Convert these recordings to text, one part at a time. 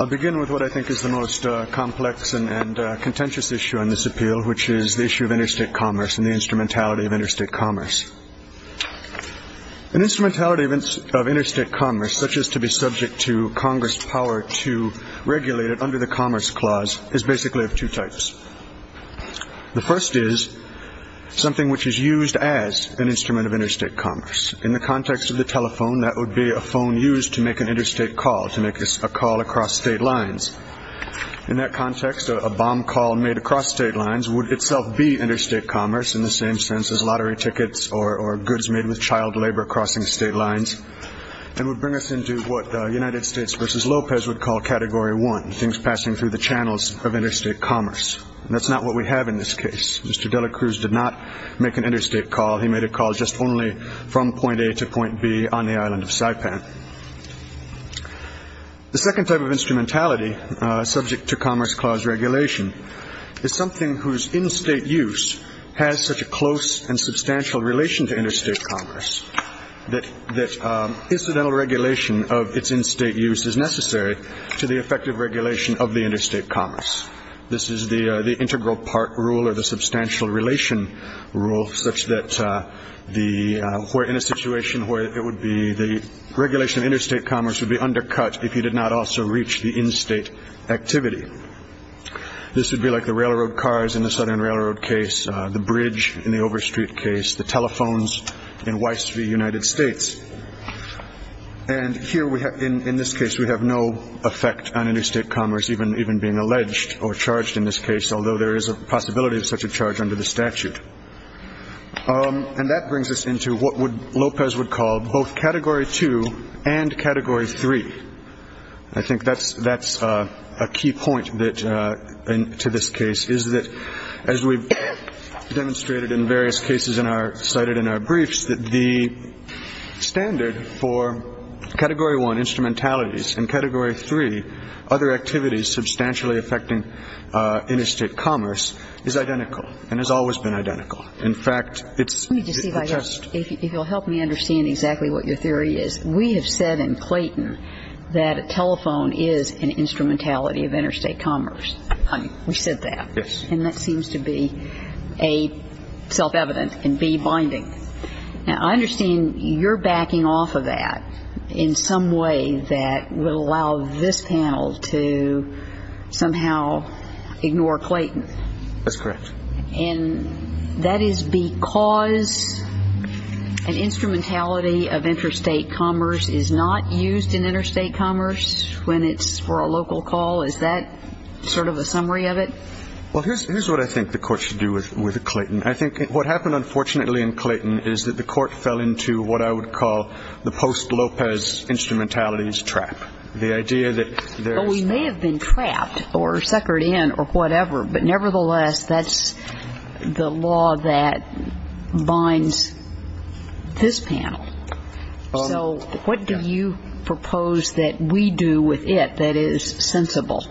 I'll begin with what I think is the most complex and contentious issue on this appeal, which is the issue of interstate commerce and the instrumentality of interstate commerce. An instrumentality of interstate commerce, such as to be subject to Congress' power to regulate it under the Commerce Clause, is basically of two types. The first is something which is used as an instrument of interstate commerce. In the context of the telephone, that would be a phone used to make an interstate call, to make a call across state lines. In that context, a bomb call made across state lines would itself be interstate commerce in the same sense as lottery tickets or goods made with child labor crossing state lines, and would bring us into what the United States v. Lopez would call Category 1, things passing through the channels of interstate commerce. And that's not what we have in this case. Mr. Dela Cruz did not make an interstate call. He made a call just only from point A to point B on the island of Saipan. The second type of instrumentality subject to Commerce Clause regulation is something whose in-state use has such a close and substantial relation to interstate commerce that incidental regulation of its in-state use is necessary to the effective regulation of the interstate commerce. This is the integral part rule or the substantial relation rule, such that the regulation of interstate commerce would be undercut if you did not also reach the in-state activity. This would be like the railroad cars in the Southern Railroad case, the bridge in the Overstreet case, the telephones in Weiss v. United States. And here in this case we have no effect on interstate commerce even being alleged or charged in this case, although there is a possibility of such a charge under the statute. And that brings us into what Lopez would call both Category 2 and Category 3. I think that's a key point to this case, is that as we've demonstrated in various cases cited in our briefs, that the standard for Category 1 instrumentalities and Category 3, other activities substantially affecting interstate commerce, is identical and has always been identical. In fact, it's the test. If you'll help me understand exactly what your theory is, we have said in Clayton that a telephone is an instrumentality of interstate commerce. We said that. And that seems to be A, self-evident, and B, binding. Now, I understand you're backing off of that in some way that would allow this panel to somehow ignore Clayton. That's correct. And that is because an instrumentality of interstate commerce is not used in interstate commerce when it's for a local call? Is that sort of a summary of it? Well, here's what I think the Court should do with Clayton. I think what happened, unfortunately, in Clayton is that the Court fell into what I would call the post-Lopez instrumentality's trap. The idea that there is no other instrumentality of interstate commerce. And that's the law that binds this panel. So what do you propose that we do with it that is sensible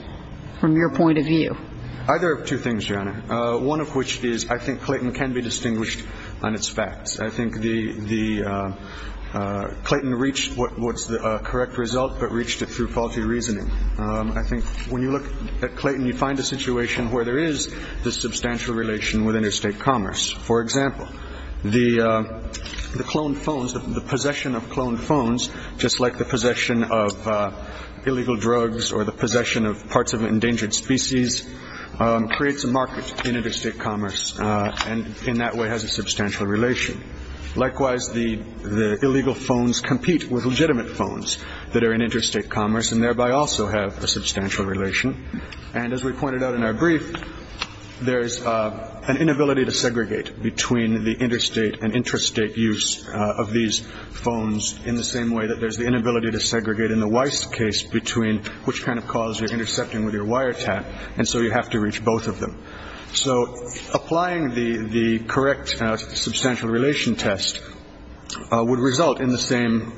from your point of view? Either of two things, Your Honor. One of which is I think Clayton can be distinguished on its facts. I think the – Clayton reached what's the correct result, but reached it through faulty reasoning. I think when you look at Clayton, you find a situation where there is this substantial relation with interstate commerce. For example, the cloned phones, the possession of cloned phones, just like the possession of illegal drugs or the possession of parts of an endangered species, creates a market in interstate commerce and in that way has a substantial relation. Likewise, the illegal phones compete with legitimate phones that are in interstate commerce and thereby also have a substantial relation. And as we pointed out in our brief, there's an inability to segregate between the interstate and intrastate use of these phones in the same way that there's the inability to segregate in the Weiss case between which kind of cause you're intercepting with your wiretap and so you have to reach both of them. So applying the correct substantial relation test would result in the same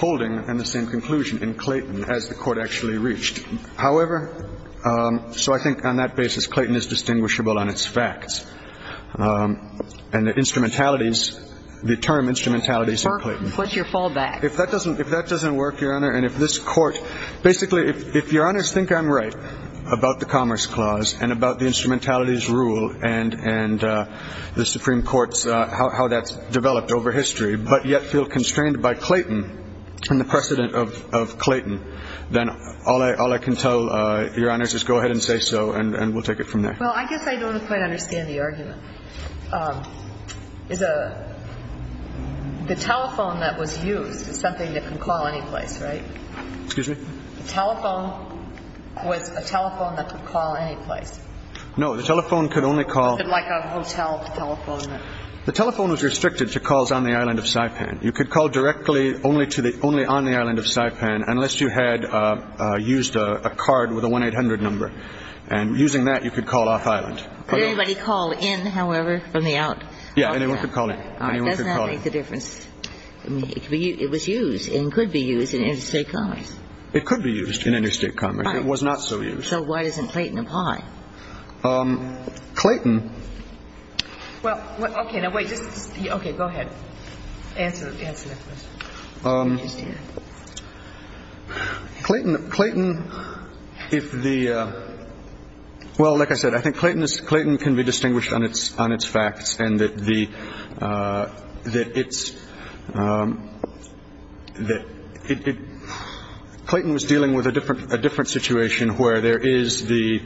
holding and the same conclusion in Clayton as the Court actually reached. However, so I think on that basis, Clayton is distinguishable on its facts and the instrumentalities, the term instrumentalities in Clayton. What's your fallback? If that doesn't work, Your Honor, and if this Court, basically if Your Honors think I'm right about the Commerce Clause and about the instrumentalities rule and the Supreme Court's, how that's developed over history, but yet feel constrained by Clayton and the Constitution. I mean, I guess I can tell Your Honors, just go ahead and say so and we'll take it from there. Well, I guess I don't quite understand the argument. The telephone that was used is something that can call any place, right? Excuse me? The telephone was a telephone that could call any place. No, the telephone could only call Like a hotel telephone? The telephone was restricted to calls on the island of Saipan. You could call directly only on the island of Saipan unless you had used a card with a 1-800 number. And using that you could call off-island. Could anybody call in, however, from the out? Yeah, anyone could call in. All right. Doesn't that make the difference? It was used and could be used in interstate commerce. It could be used in interstate commerce. It was not so used. So why doesn't Clayton apply? Clayton Well, like I said, I think Clayton can be distinguished on its facts. Clayton was dealing with a different a different situation where there is the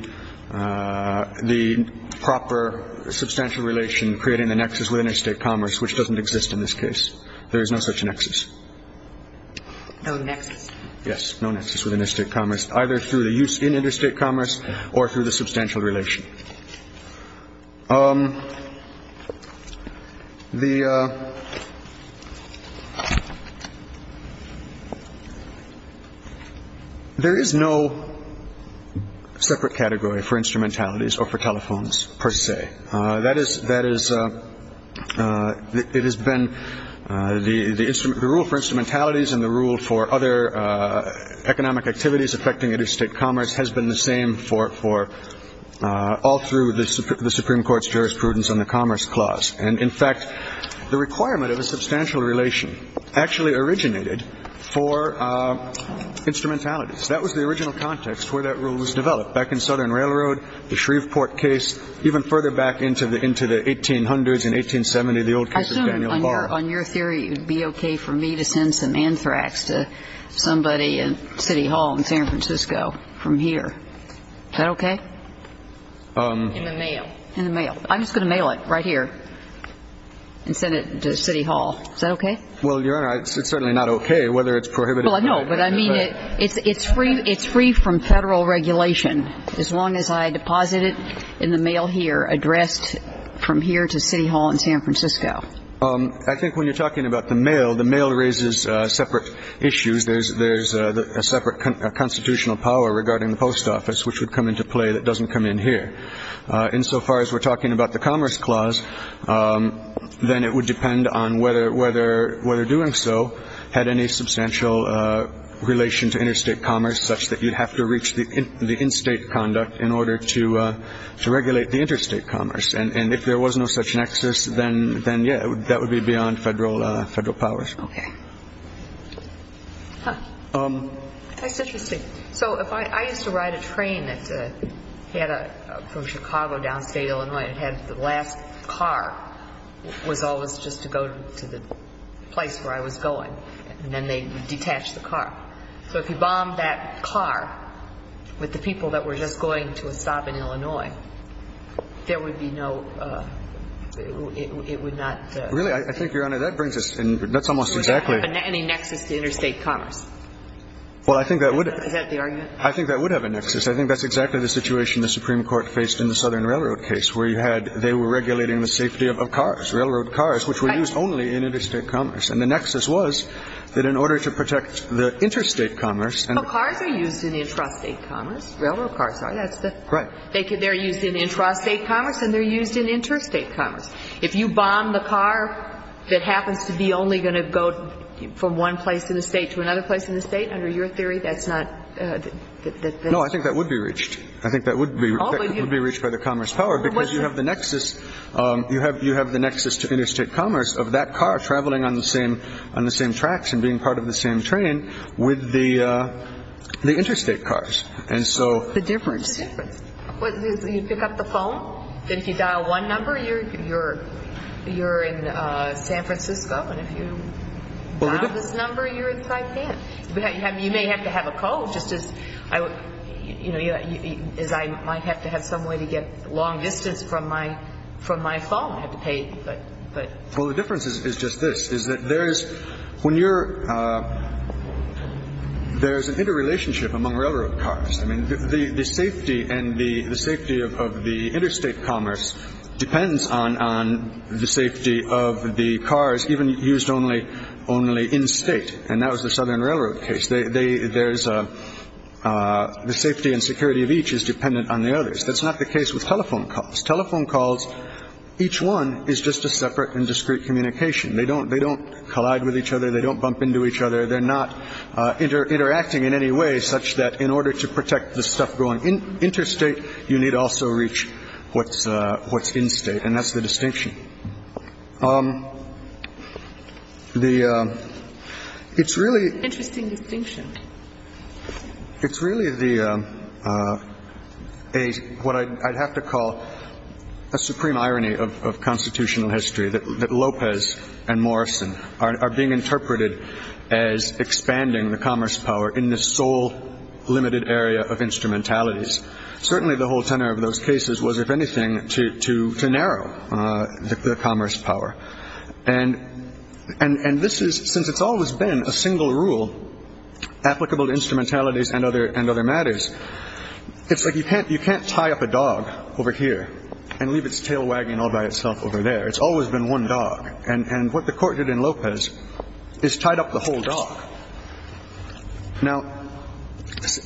the proper substantial relation creating the nexus with interstate commerce, which doesn't exist in this case. There is no such nexus. No nexus. Yes, no nexus with interstate commerce, either through the use in interstate commerce or through the substantial relation. There is no separate category for instrumentalities or for telephones, per se. That is that is it has been the instrument the rule for instrumentalities and the rule for other economic activities affecting interstate commerce has been the same for all through the Supreme Court's jurisprudence on the Commerce Clause. And, in fact, the requirement of a substantial relation actually originated for instrumentalities. That was the original context where that rule was developed, back in Southern Railroad, the Shreveport case, even further back into the into the 1800s and 1870s, the old case of Daniel Barr. I assume on your theory it would be okay for me to send some anthrax to somebody in City Hall in San Francisco from here. Is that okay? In the mail. In the mail. I'm just going to mail it right here and send it to City Hall. Is that okay? Well, Your Honor, it's certainly not okay, whether it's prohibited by the Federal Regulation. No, but I mean it's free from Federal regulation as long as I deposit it in the mail here addressed from here to City Hall in San Francisco. I think when you're talking about the mail, the mail raises separate issues. There's a separate constitutional power regarding the post office, which would come into play that doesn't come in here. Insofar as we're talking about the Commerce Clause, then it would depend on whether doing so had any substantial relation to interstate commerce, such that you'd have to reach the in-state conduct in order to regulate the interstate commerce. And if there was no such nexus, then, yeah, that would be beyond Federal powers. Okay. That's interesting. So if I used to ride a train that had a, from Chicago downstate Illinois, it had the last car was always just to go to the place where I was going, and then they'd detach the car. So if you bombed that car with the people that were just going to a stop in Illinois, there would be no, it would not Really, I think, Your Honor, that brings us in, that's almost exactly Would that have any nexus to interstate commerce? Well, I think that would Is that the argument? I think that would have a nexus. I think that's exactly the situation the Supreme Court faced in the Southern Railroad case, where you had, they were regulating the safety of cars, railroad cars, which were used only in interstate commerce. And the nexus was that in order to protect the interstate commerce Well, cars are used in intrastate commerce. Railroad cars are. That's the Right. They're used in intrastate commerce, and they're used in interstate commerce. If you bomb the car that happens to be only going to go from one place in the state to another place in the state, under your theory, that's not No, I think that would be reached. I think that would be reached by the commerce power because you have the nexus to interstate commerce of that car traveling on the same tracks and being part of the same train with the interstate cars. And so What's the difference? What's the difference? You pick up the phone, and if you dial one number, you're in San Francisco, and if you dial this number, you're in Saipan. You may have to have a call, just as I might have to have some way to get long distance from my phone. I have to pay, but Well, the difference is just this, is that there's, when you're, there's an interrelationship among railroad cars. I mean, the safety and the safety of the interstate commerce depends on the safety of the cars even used only only in state. And that was the Southern Railroad case. They there's a the safety and security of each is dependent on the others. That's not the case with telephone calls. Telephone calls. Each one is just a separate and discrete communication. They don't they don't collide with each other. They don't bump into each other. They're not interacting in any way such that in order to protect the stuff going in interstate, you need also reach what's what's in state. And that's the distinction. The it's really interesting distinction. It's really the a what I'd have to call a supreme Morrison are being interpreted as expanding the commerce power in the sole limited area of instrumentalities. Certainly, the whole tenor of those cases was, if anything, to to narrow the commerce power. And and this is since it's always been a single rule applicable to instrumentalities and other and other matters. It's like you can't you can't tie up a dog over here and leave its tail wagging all by itself over there. It's always been one dog. And what the court did in Lopez is tied up the whole dog. Now,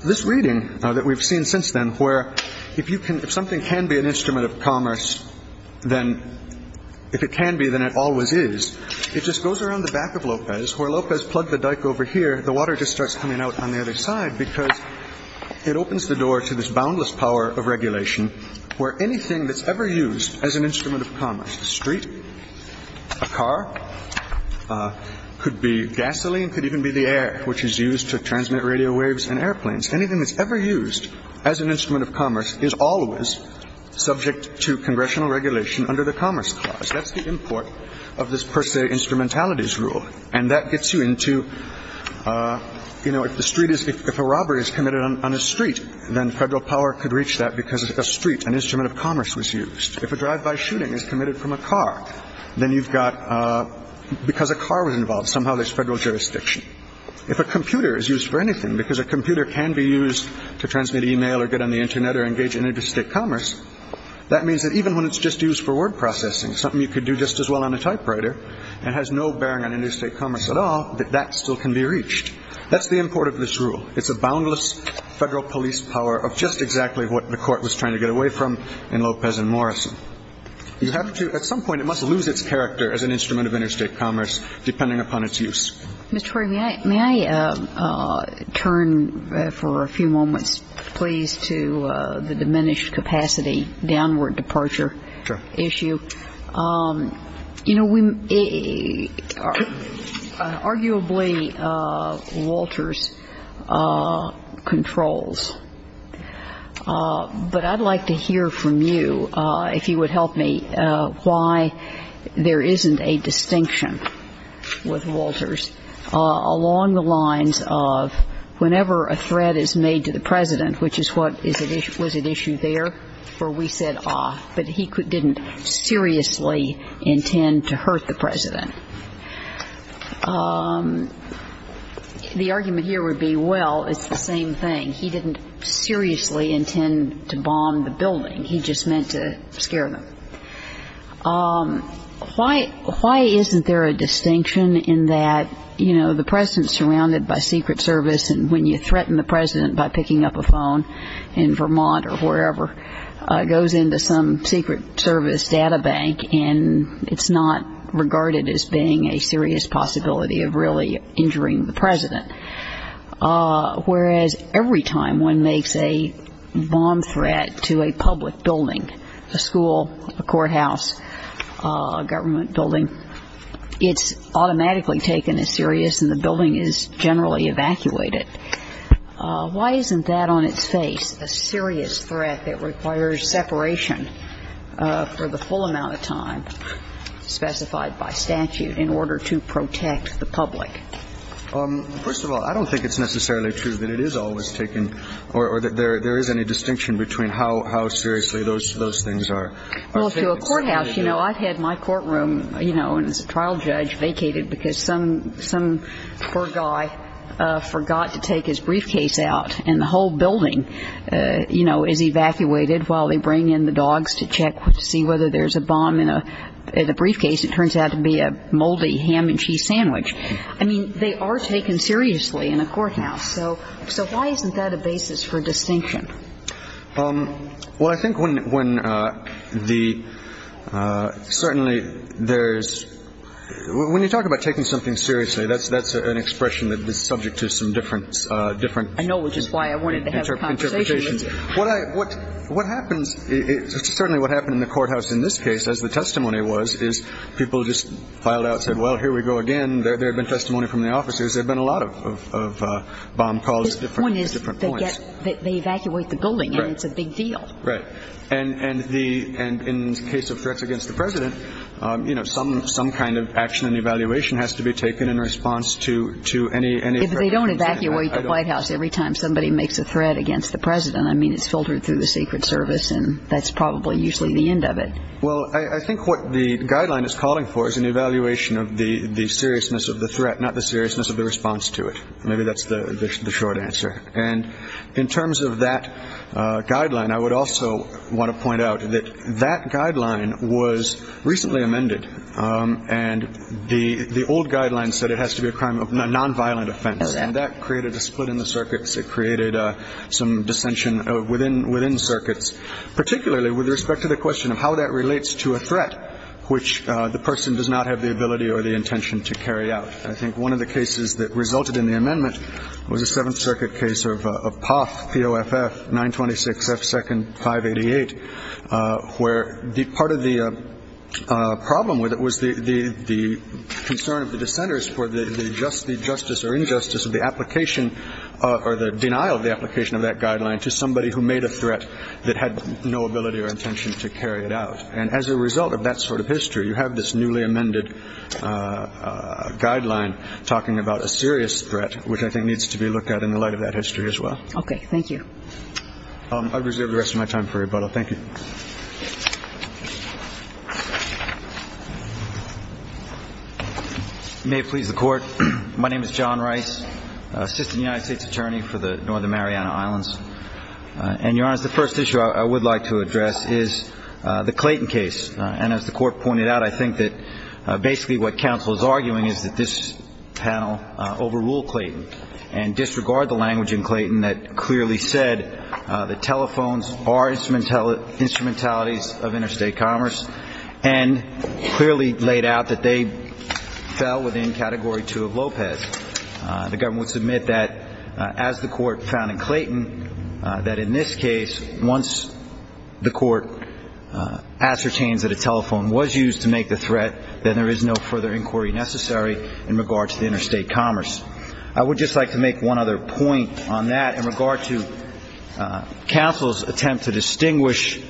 this reading that we've seen since then, where if you can, if something can be an instrument of commerce, then if it can be, then it always is. It just goes around the back of Lopez, where Lopez plugged the dike over here. The water just starts coming out on the other side because it opens the door to this boundless power of regulation where anything that's ever used as an instrument of commerce, the street, a car could be gasoline, could even be the air which is used to transmit radio waves and airplanes. Anything that's ever used as an instrument of commerce is always subject to congressional regulation under the Commerce Clause. That's the import of this per se instrumentalities rule. And that gets you into, you know, if the street is if a robbery is committed on a street, then federal power could reach that because of the street. An instrument of commerce was used. If a drive by shooting is committed from a car, then you've got because a car was involved. Somehow there's federal jurisdiction. If a computer is used for anything because a computer can be used to transmit email or get on the Internet or engage in interstate commerce, that means that even when it's just used for word processing, something you could do just as well on a typewriter and has no bearing on interstate commerce at all, that that still can be reached. That's the import of this rule. It's a boundless federal police power of just exactly what the Court was trying to get away from in Lopez and Morrison. You have to at some point, it must lose its character as an instrument of interstate commerce depending upon its use. MS. NISBETT. Mr. Freeman, may I turn for a few moments, please, to the diminished capacity downward departure issue? Arguably, Walters controls. But I'd like to hear from you, if you would help me, why there isn't a distinction with Walters along the lines of whenever a threat is made to the President, which is what was at issue there where we said, ah, but he didn't seriously intend to hurt the President. The argument here would be, well, it's the same thing. He didn't seriously intend to bomb the building. He just meant to scare them. Why isn't there a distinction in that, you know, the President is surrounded by Secret Service, and when you threaten the President by picking up a phone in Vermont or wherever, it goes into some Secret Service data bank, and it's not regarded as being a serious possibility of really injuring the President. Whereas every time one makes a bomb threat to a public building, a school, a courthouse, a government building, it's automatically taken as serious, and the building is generally evacuated. Why isn't that on its face, a serious threat that requires separation for the full amount of time specified by statute in order to protect the public? First of all, I don't think it's necessarily true that it is always taken, or that there is any distinction between how seriously those things are taken. Well, to a courthouse, you know, I've had my courtroom, you know, as a trial judge, vacated because some poor guy forgot to take his briefcase out, and the whole building, you know, is evacuated while they bring in the dogs to check to see whether there's a bomb in a briefcase. It turns out to be a moldy ham and cheese sandwich. I mean, they are taken seriously in a courthouse. So why isn't that a basis for distinction? Well, I think when the, certainly there's, when you talk about taking something seriously, that's an expression that's subject to some different interpretations. I know, which is why I wanted to have a conversation with you. What happens, certainly what happened in the courthouse in this case, as the testimony was, is people just filed out, said, well, here we go again. There had been testimony from the officers. There had been a lot of bomb calls at different points. One is that they evacuate the building, and it's a big deal. Right. And in the case of threats against the President, you know, some kind of action and evaluation has to be taken in response to any threat. If they don't evacuate the White House every time somebody makes a threat against the President, I mean, it's filtered through the Secret Service, and that's probably usually the end of it. Well, I think what the guideline is calling for is an evaluation of the seriousness of the threat, not the seriousness of the response to it. Maybe that's the short answer. And in terms of that guideline, I would also want to point out that that guideline was recently amended, and the old guideline said it has to be a crime of nonviolent offense. Okay. And that created a split in the circuits. It created some dissension within circuits, particularly with respect to the question of how that relates to a threat which the person does not have the ability or the intention to carry out. I think one of the cases that resulted in the amendment was a Seventh Circuit case of POFF, P-O-F-F, 926 F. Second, 588, where part of the problem with it was the concern of the dissenters for the justice or injustice of the application or the denial of the application of that guideline to somebody who made a threat that had no ability or intention to carry it out. And as a result of that sort of history, you have this newly amended guideline talking about a serious threat, which I think needs to be looked at in the light of that history as well. Okay. Thank you. I'll reserve the rest of my time for rebuttal. Thank you. May it please the Court, my name is John Rice, Assistant United States Attorney for the Northern Mariana Islands. And, Your Honor, the first issue I would like to address is the Clayton case. And as the Court pointed out, I think that basically what counsel is arguing is that this panel overruled Clayton and disregarded the language in Clayton that clearly said that telephones are instrumentalities of interstate commerce and clearly laid out that they fell within Category 2 of LOPEZ. The government would submit that, as the Court found in Clayton, that in this case, once the Court ascertains that a telephone was used to make the threat, then there is no further inquiry necessary in regard to the interstate commerce. I would just like to make one other point on that in regard to counsel's attempt to distinguish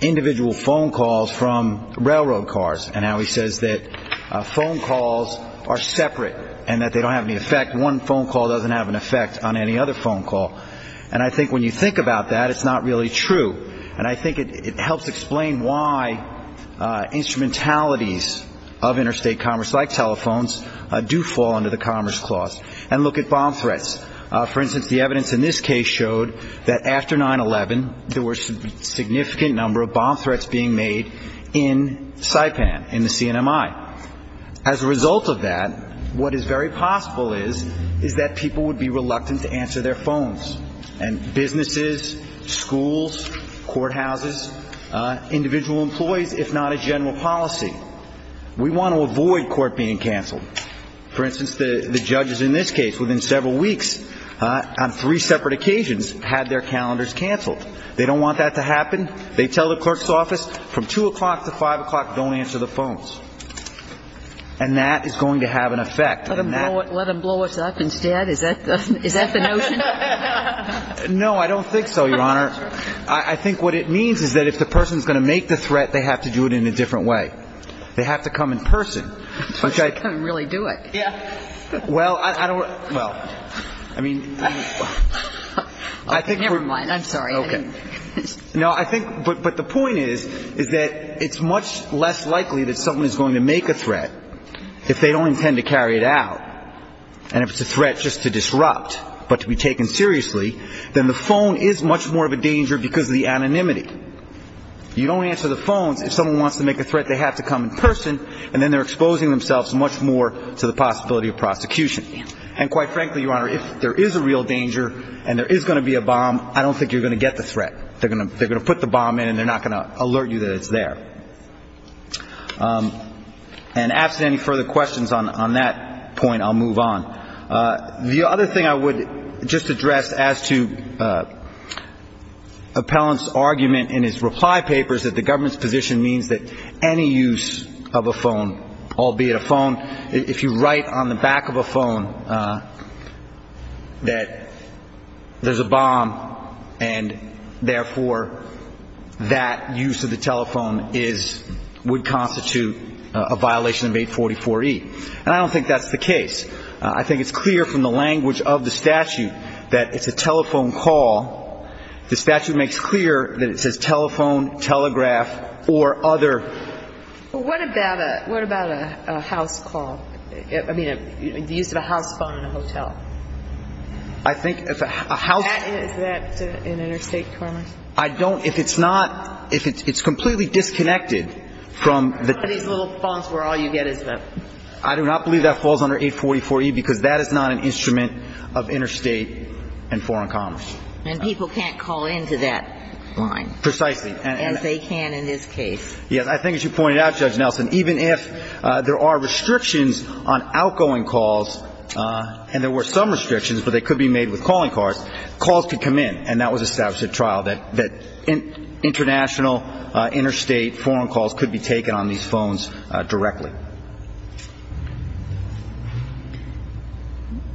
individual phone calls from railroad cars and how he says that phone calls are separate and that they don't have any effect. One phone call doesn't have an effect on any other phone call. And I think when you think about that, it's not really true. And I think it helps explain why instrumentalities of interstate commerce like telephones do fall under the Commerce Clause. And look at bomb threats. For instance, the evidence in this case showed that after 9-11, there were significant number of bomb threats being made in Saipan, in the CNMI. As a result of that, what is very possible is that people would be using telephones and businesses, schools, courthouses, individual employees, if not a general policy. We want to avoid court being canceled. For instance, the judges in this case, within several weeks, on three separate occasions, had their calendars canceled. They don't want that to happen. They tell the clerk's office, from 2 o'clock to 5 o'clock, don't answer the phones. And that is going to have an effect. Let them blow us up instead? Is that the notion? No, I don't think so, Your Honor. I think what it means is that if the person's going to make the threat, they have to do it in a different way. They have to come in person. They have to come and really do it. Well, I don't – well, I mean – Never mind. I'm sorry. Okay. No, I think – but the point is, is that it's much less likely that if someone is going to make a threat, if they don't intend to carry it out, and if it's a threat just to disrupt, but to be taken seriously, then the phone is much more of a danger because of the anonymity. You don't answer the phones. If someone wants to make a threat, they have to come in person, and then they're exposing themselves much more to the possibility of prosecution. And quite frankly, Your Honor, if there is a real danger and there is going to be a bomb, I don't think you're going to get the threat. They're going to put the bomb in, and they're not going to alert you that it's there. And absent any further questions on that point, I'll move on. The other thing I would just address as to appellant's argument in his reply papers that the government's position means that any use of a phone, albeit a phone – if you write on the back of a phone that there's a bomb and therefore that use of the telephone would constitute a violation of 844E. And I don't think that's the case. I think it's clear from the language of the statute that it's a telephone call. The statute makes clear that it says telephone, telegraph, or other. Well, what about a house call? I mean, the use of a house phone in a hotel. I think if a house – Is that in interstate commerce? I don't – if it's not – if it's completely disconnected from the – One of these little phones where all you get is the – I do not believe that falls under 844E because that is not an instrument of interstate and foreign commerce. And people can't call into that line. Precisely. As they can in this case. Yes, I think as you pointed out, Judge Nelson, even if there are restrictions on outgoing calls – and there were some restrictions, but they could be made with calling cards – calls could come in. And that was established at trial, that international, interstate, foreign calls could be taken on these phones directly.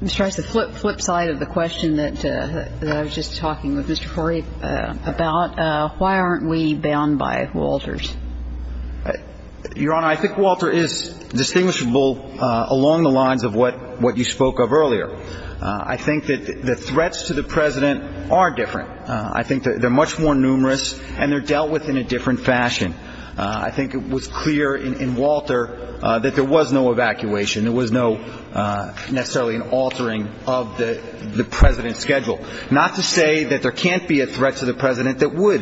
Mr. Rice, the flip side of the question that I was just talking with Mr. Corey about, why aren't we bound by WALTRs? Your Honor, I think WALTR is distinguishable along the lines of what you spoke of earlier. I think that the threats to the president are different. I think they're much more numerous and they're dealt with in a different fashion. I think it was clear in WALTR that there was no evacuation. There was no – necessarily an altering of the president's schedule. Not to say that there can't be a threat to the president that would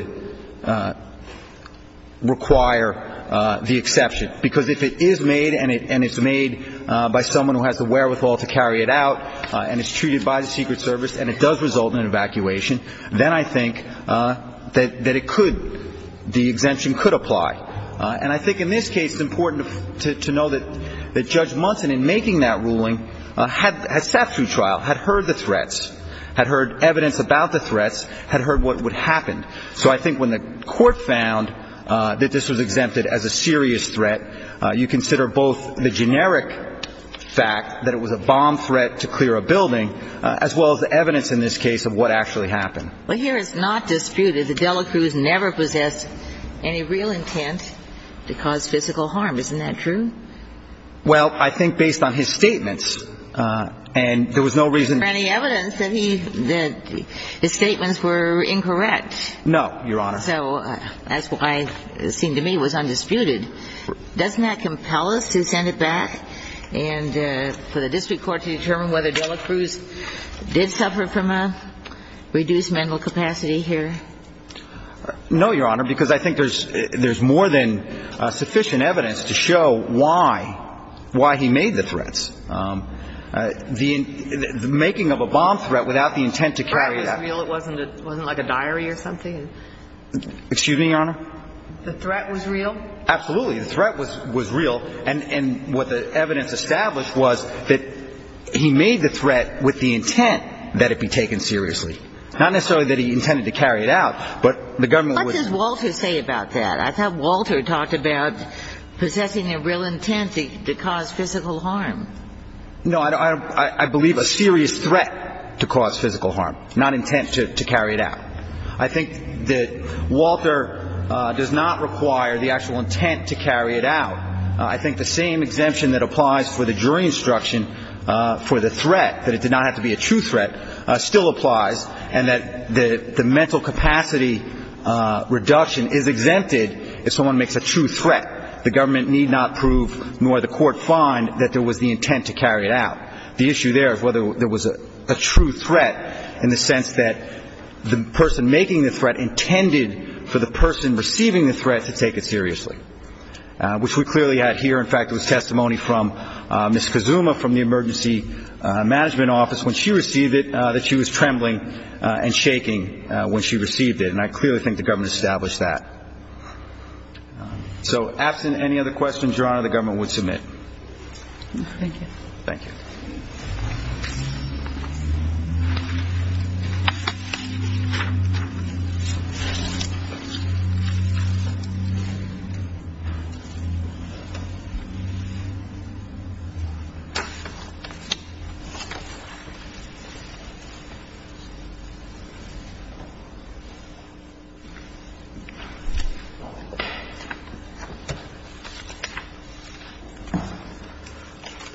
require the exception. Because if it is made and it's made by someone who has the wherewithal to carry it out and it's treated by the Secret Service and it does result in an evacuation, then I think that it could – the exemption could apply. And I think in this case it's important to know that Judge Munson, in making that ruling, had sat through trial, had heard the threats, had heard evidence about the threats, had heard what would happen. So I think when the court found that this was exempted as a serious threat, you consider both the generic fact that it was a bomb threat to clear a building as well as the evidence in this case of what actually happened. Well, here it's not disputed that Dela Cruz never possessed any real intent to cause physical harm. Isn't that true? Well, I think based on his statements, and there was no reason to – Was there any evidence that he – that his statements were incorrect? No, Your Honor. So that's why it seemed to me it was undisputed. Doesn't that compel us to send it back and for the district court to determine whether Dela Cruz did suffer from a reduced mental capacity here? No, Your Honor, because I think there's more than sufficient evidence to show why he made the threats. The making of a bomb threat without the intent to carry it out. It wasn't like a diary or something? Excuse me, Your Honor? The threat was real? Absolutely. The threat was real, and what the evidence established was that he made the threat with the intent that it be taken seriously. Not necessarily that he intended to carry it out, but the government was – What does Walter say about that? I thought Walter talked about possessing a real intent to cause physical harm. No, I believe a serious threat to cause physical harm, not intent to carry it out. I think that Walter does not require the actual intent to carry it out. I think the same exemption that applies for the jury instruction for the threat, that it did not have to be a true threat, still applies, and that the mental capacity reduction is exempted if someone makes a true threat. The government need not prove, nor the court find, that there was the intent to carry it out. The issue there is whether there was a true threat in the sense that the person making the threat intended for the person receiving the threat to take it seriously, which we clearly had here. In fact, there was testimony from Ms. Kazuma from the emergency management office, when she received it, that she was trembling and shaking when she received it, and I clearly think the government established that. So absent any other questions, Your Honor, the government would submit. Thank you. Thank you. Thank you.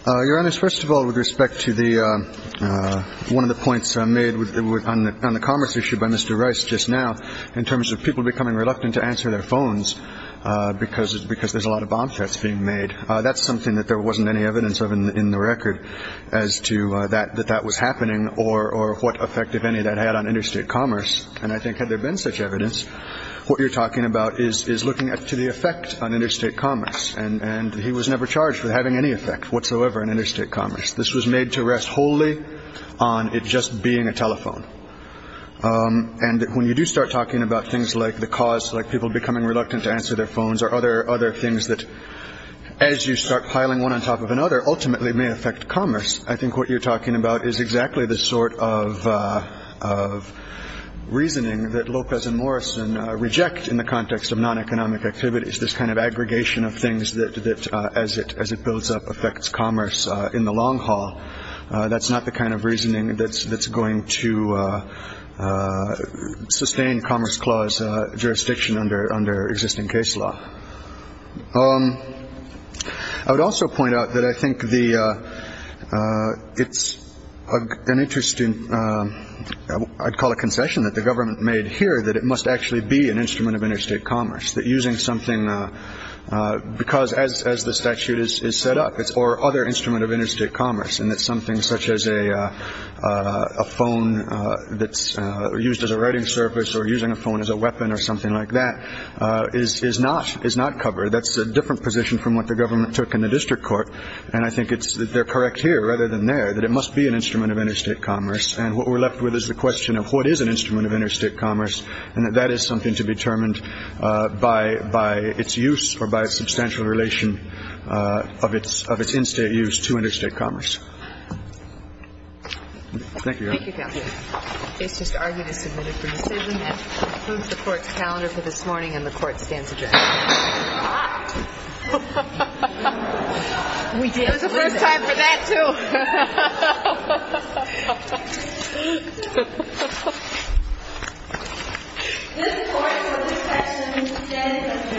Your Honor, first of all, with respect to one of the points made on the commerce issue by Mr. Rice just now, in terms of people becoming reluctant to answer their phones because there's a lot of bomb threats being made, that's something that there wasn't any evidence of in the record as to that that that was happening or what effect, if any, that had on interstate commerce. And I think had there been such evidence, what you're talking about is looking to the effect on interstate commerce, and he was never charged with having any effect whatsoever on interstate commerce. This was made to rest wholly on it just being a telephone. And when you do start talking about things like the cause, like people becoming reluctant to answer their phones or other things that, as you start piling one on top of another, ultimately may affect commerce, I think what you're talking about is exactly the sort of reasoning that Lopez and Morrison reject in the context of non-economic activities, this kind of aggregation of things that, as it builds up, affects commerce in the long haul. That's not the kind of reasoning that's that's going to sustain Commerce Clause jurisdiction under under existing case law. I would also point out that I think the it's an interesting I'd call a concession that the government made here, that it must actually be an instrument of interstate commerce that using something because as as the statute is set up, it's or other instrument of interstate commerce. And that's something such as a phone that's used as a writing service or using a phone as a weapon or something like that is not is not covered. That's a different position from what the government took in the district court. And I think it's that they're correct here rather than there, that it must be an instrument of interstate commerce. And what we're left with is the question of what is an instrument of interstate commerce. And that that is something to be determined by by its use or by a substantial relation of its of its in-state use to interstate commerce. Thank you. Thank you. It's just argument is submitted for decision. Move the court's calendar for this morning and the court stands adjourned. We did. It was the first time for that too. Thank you.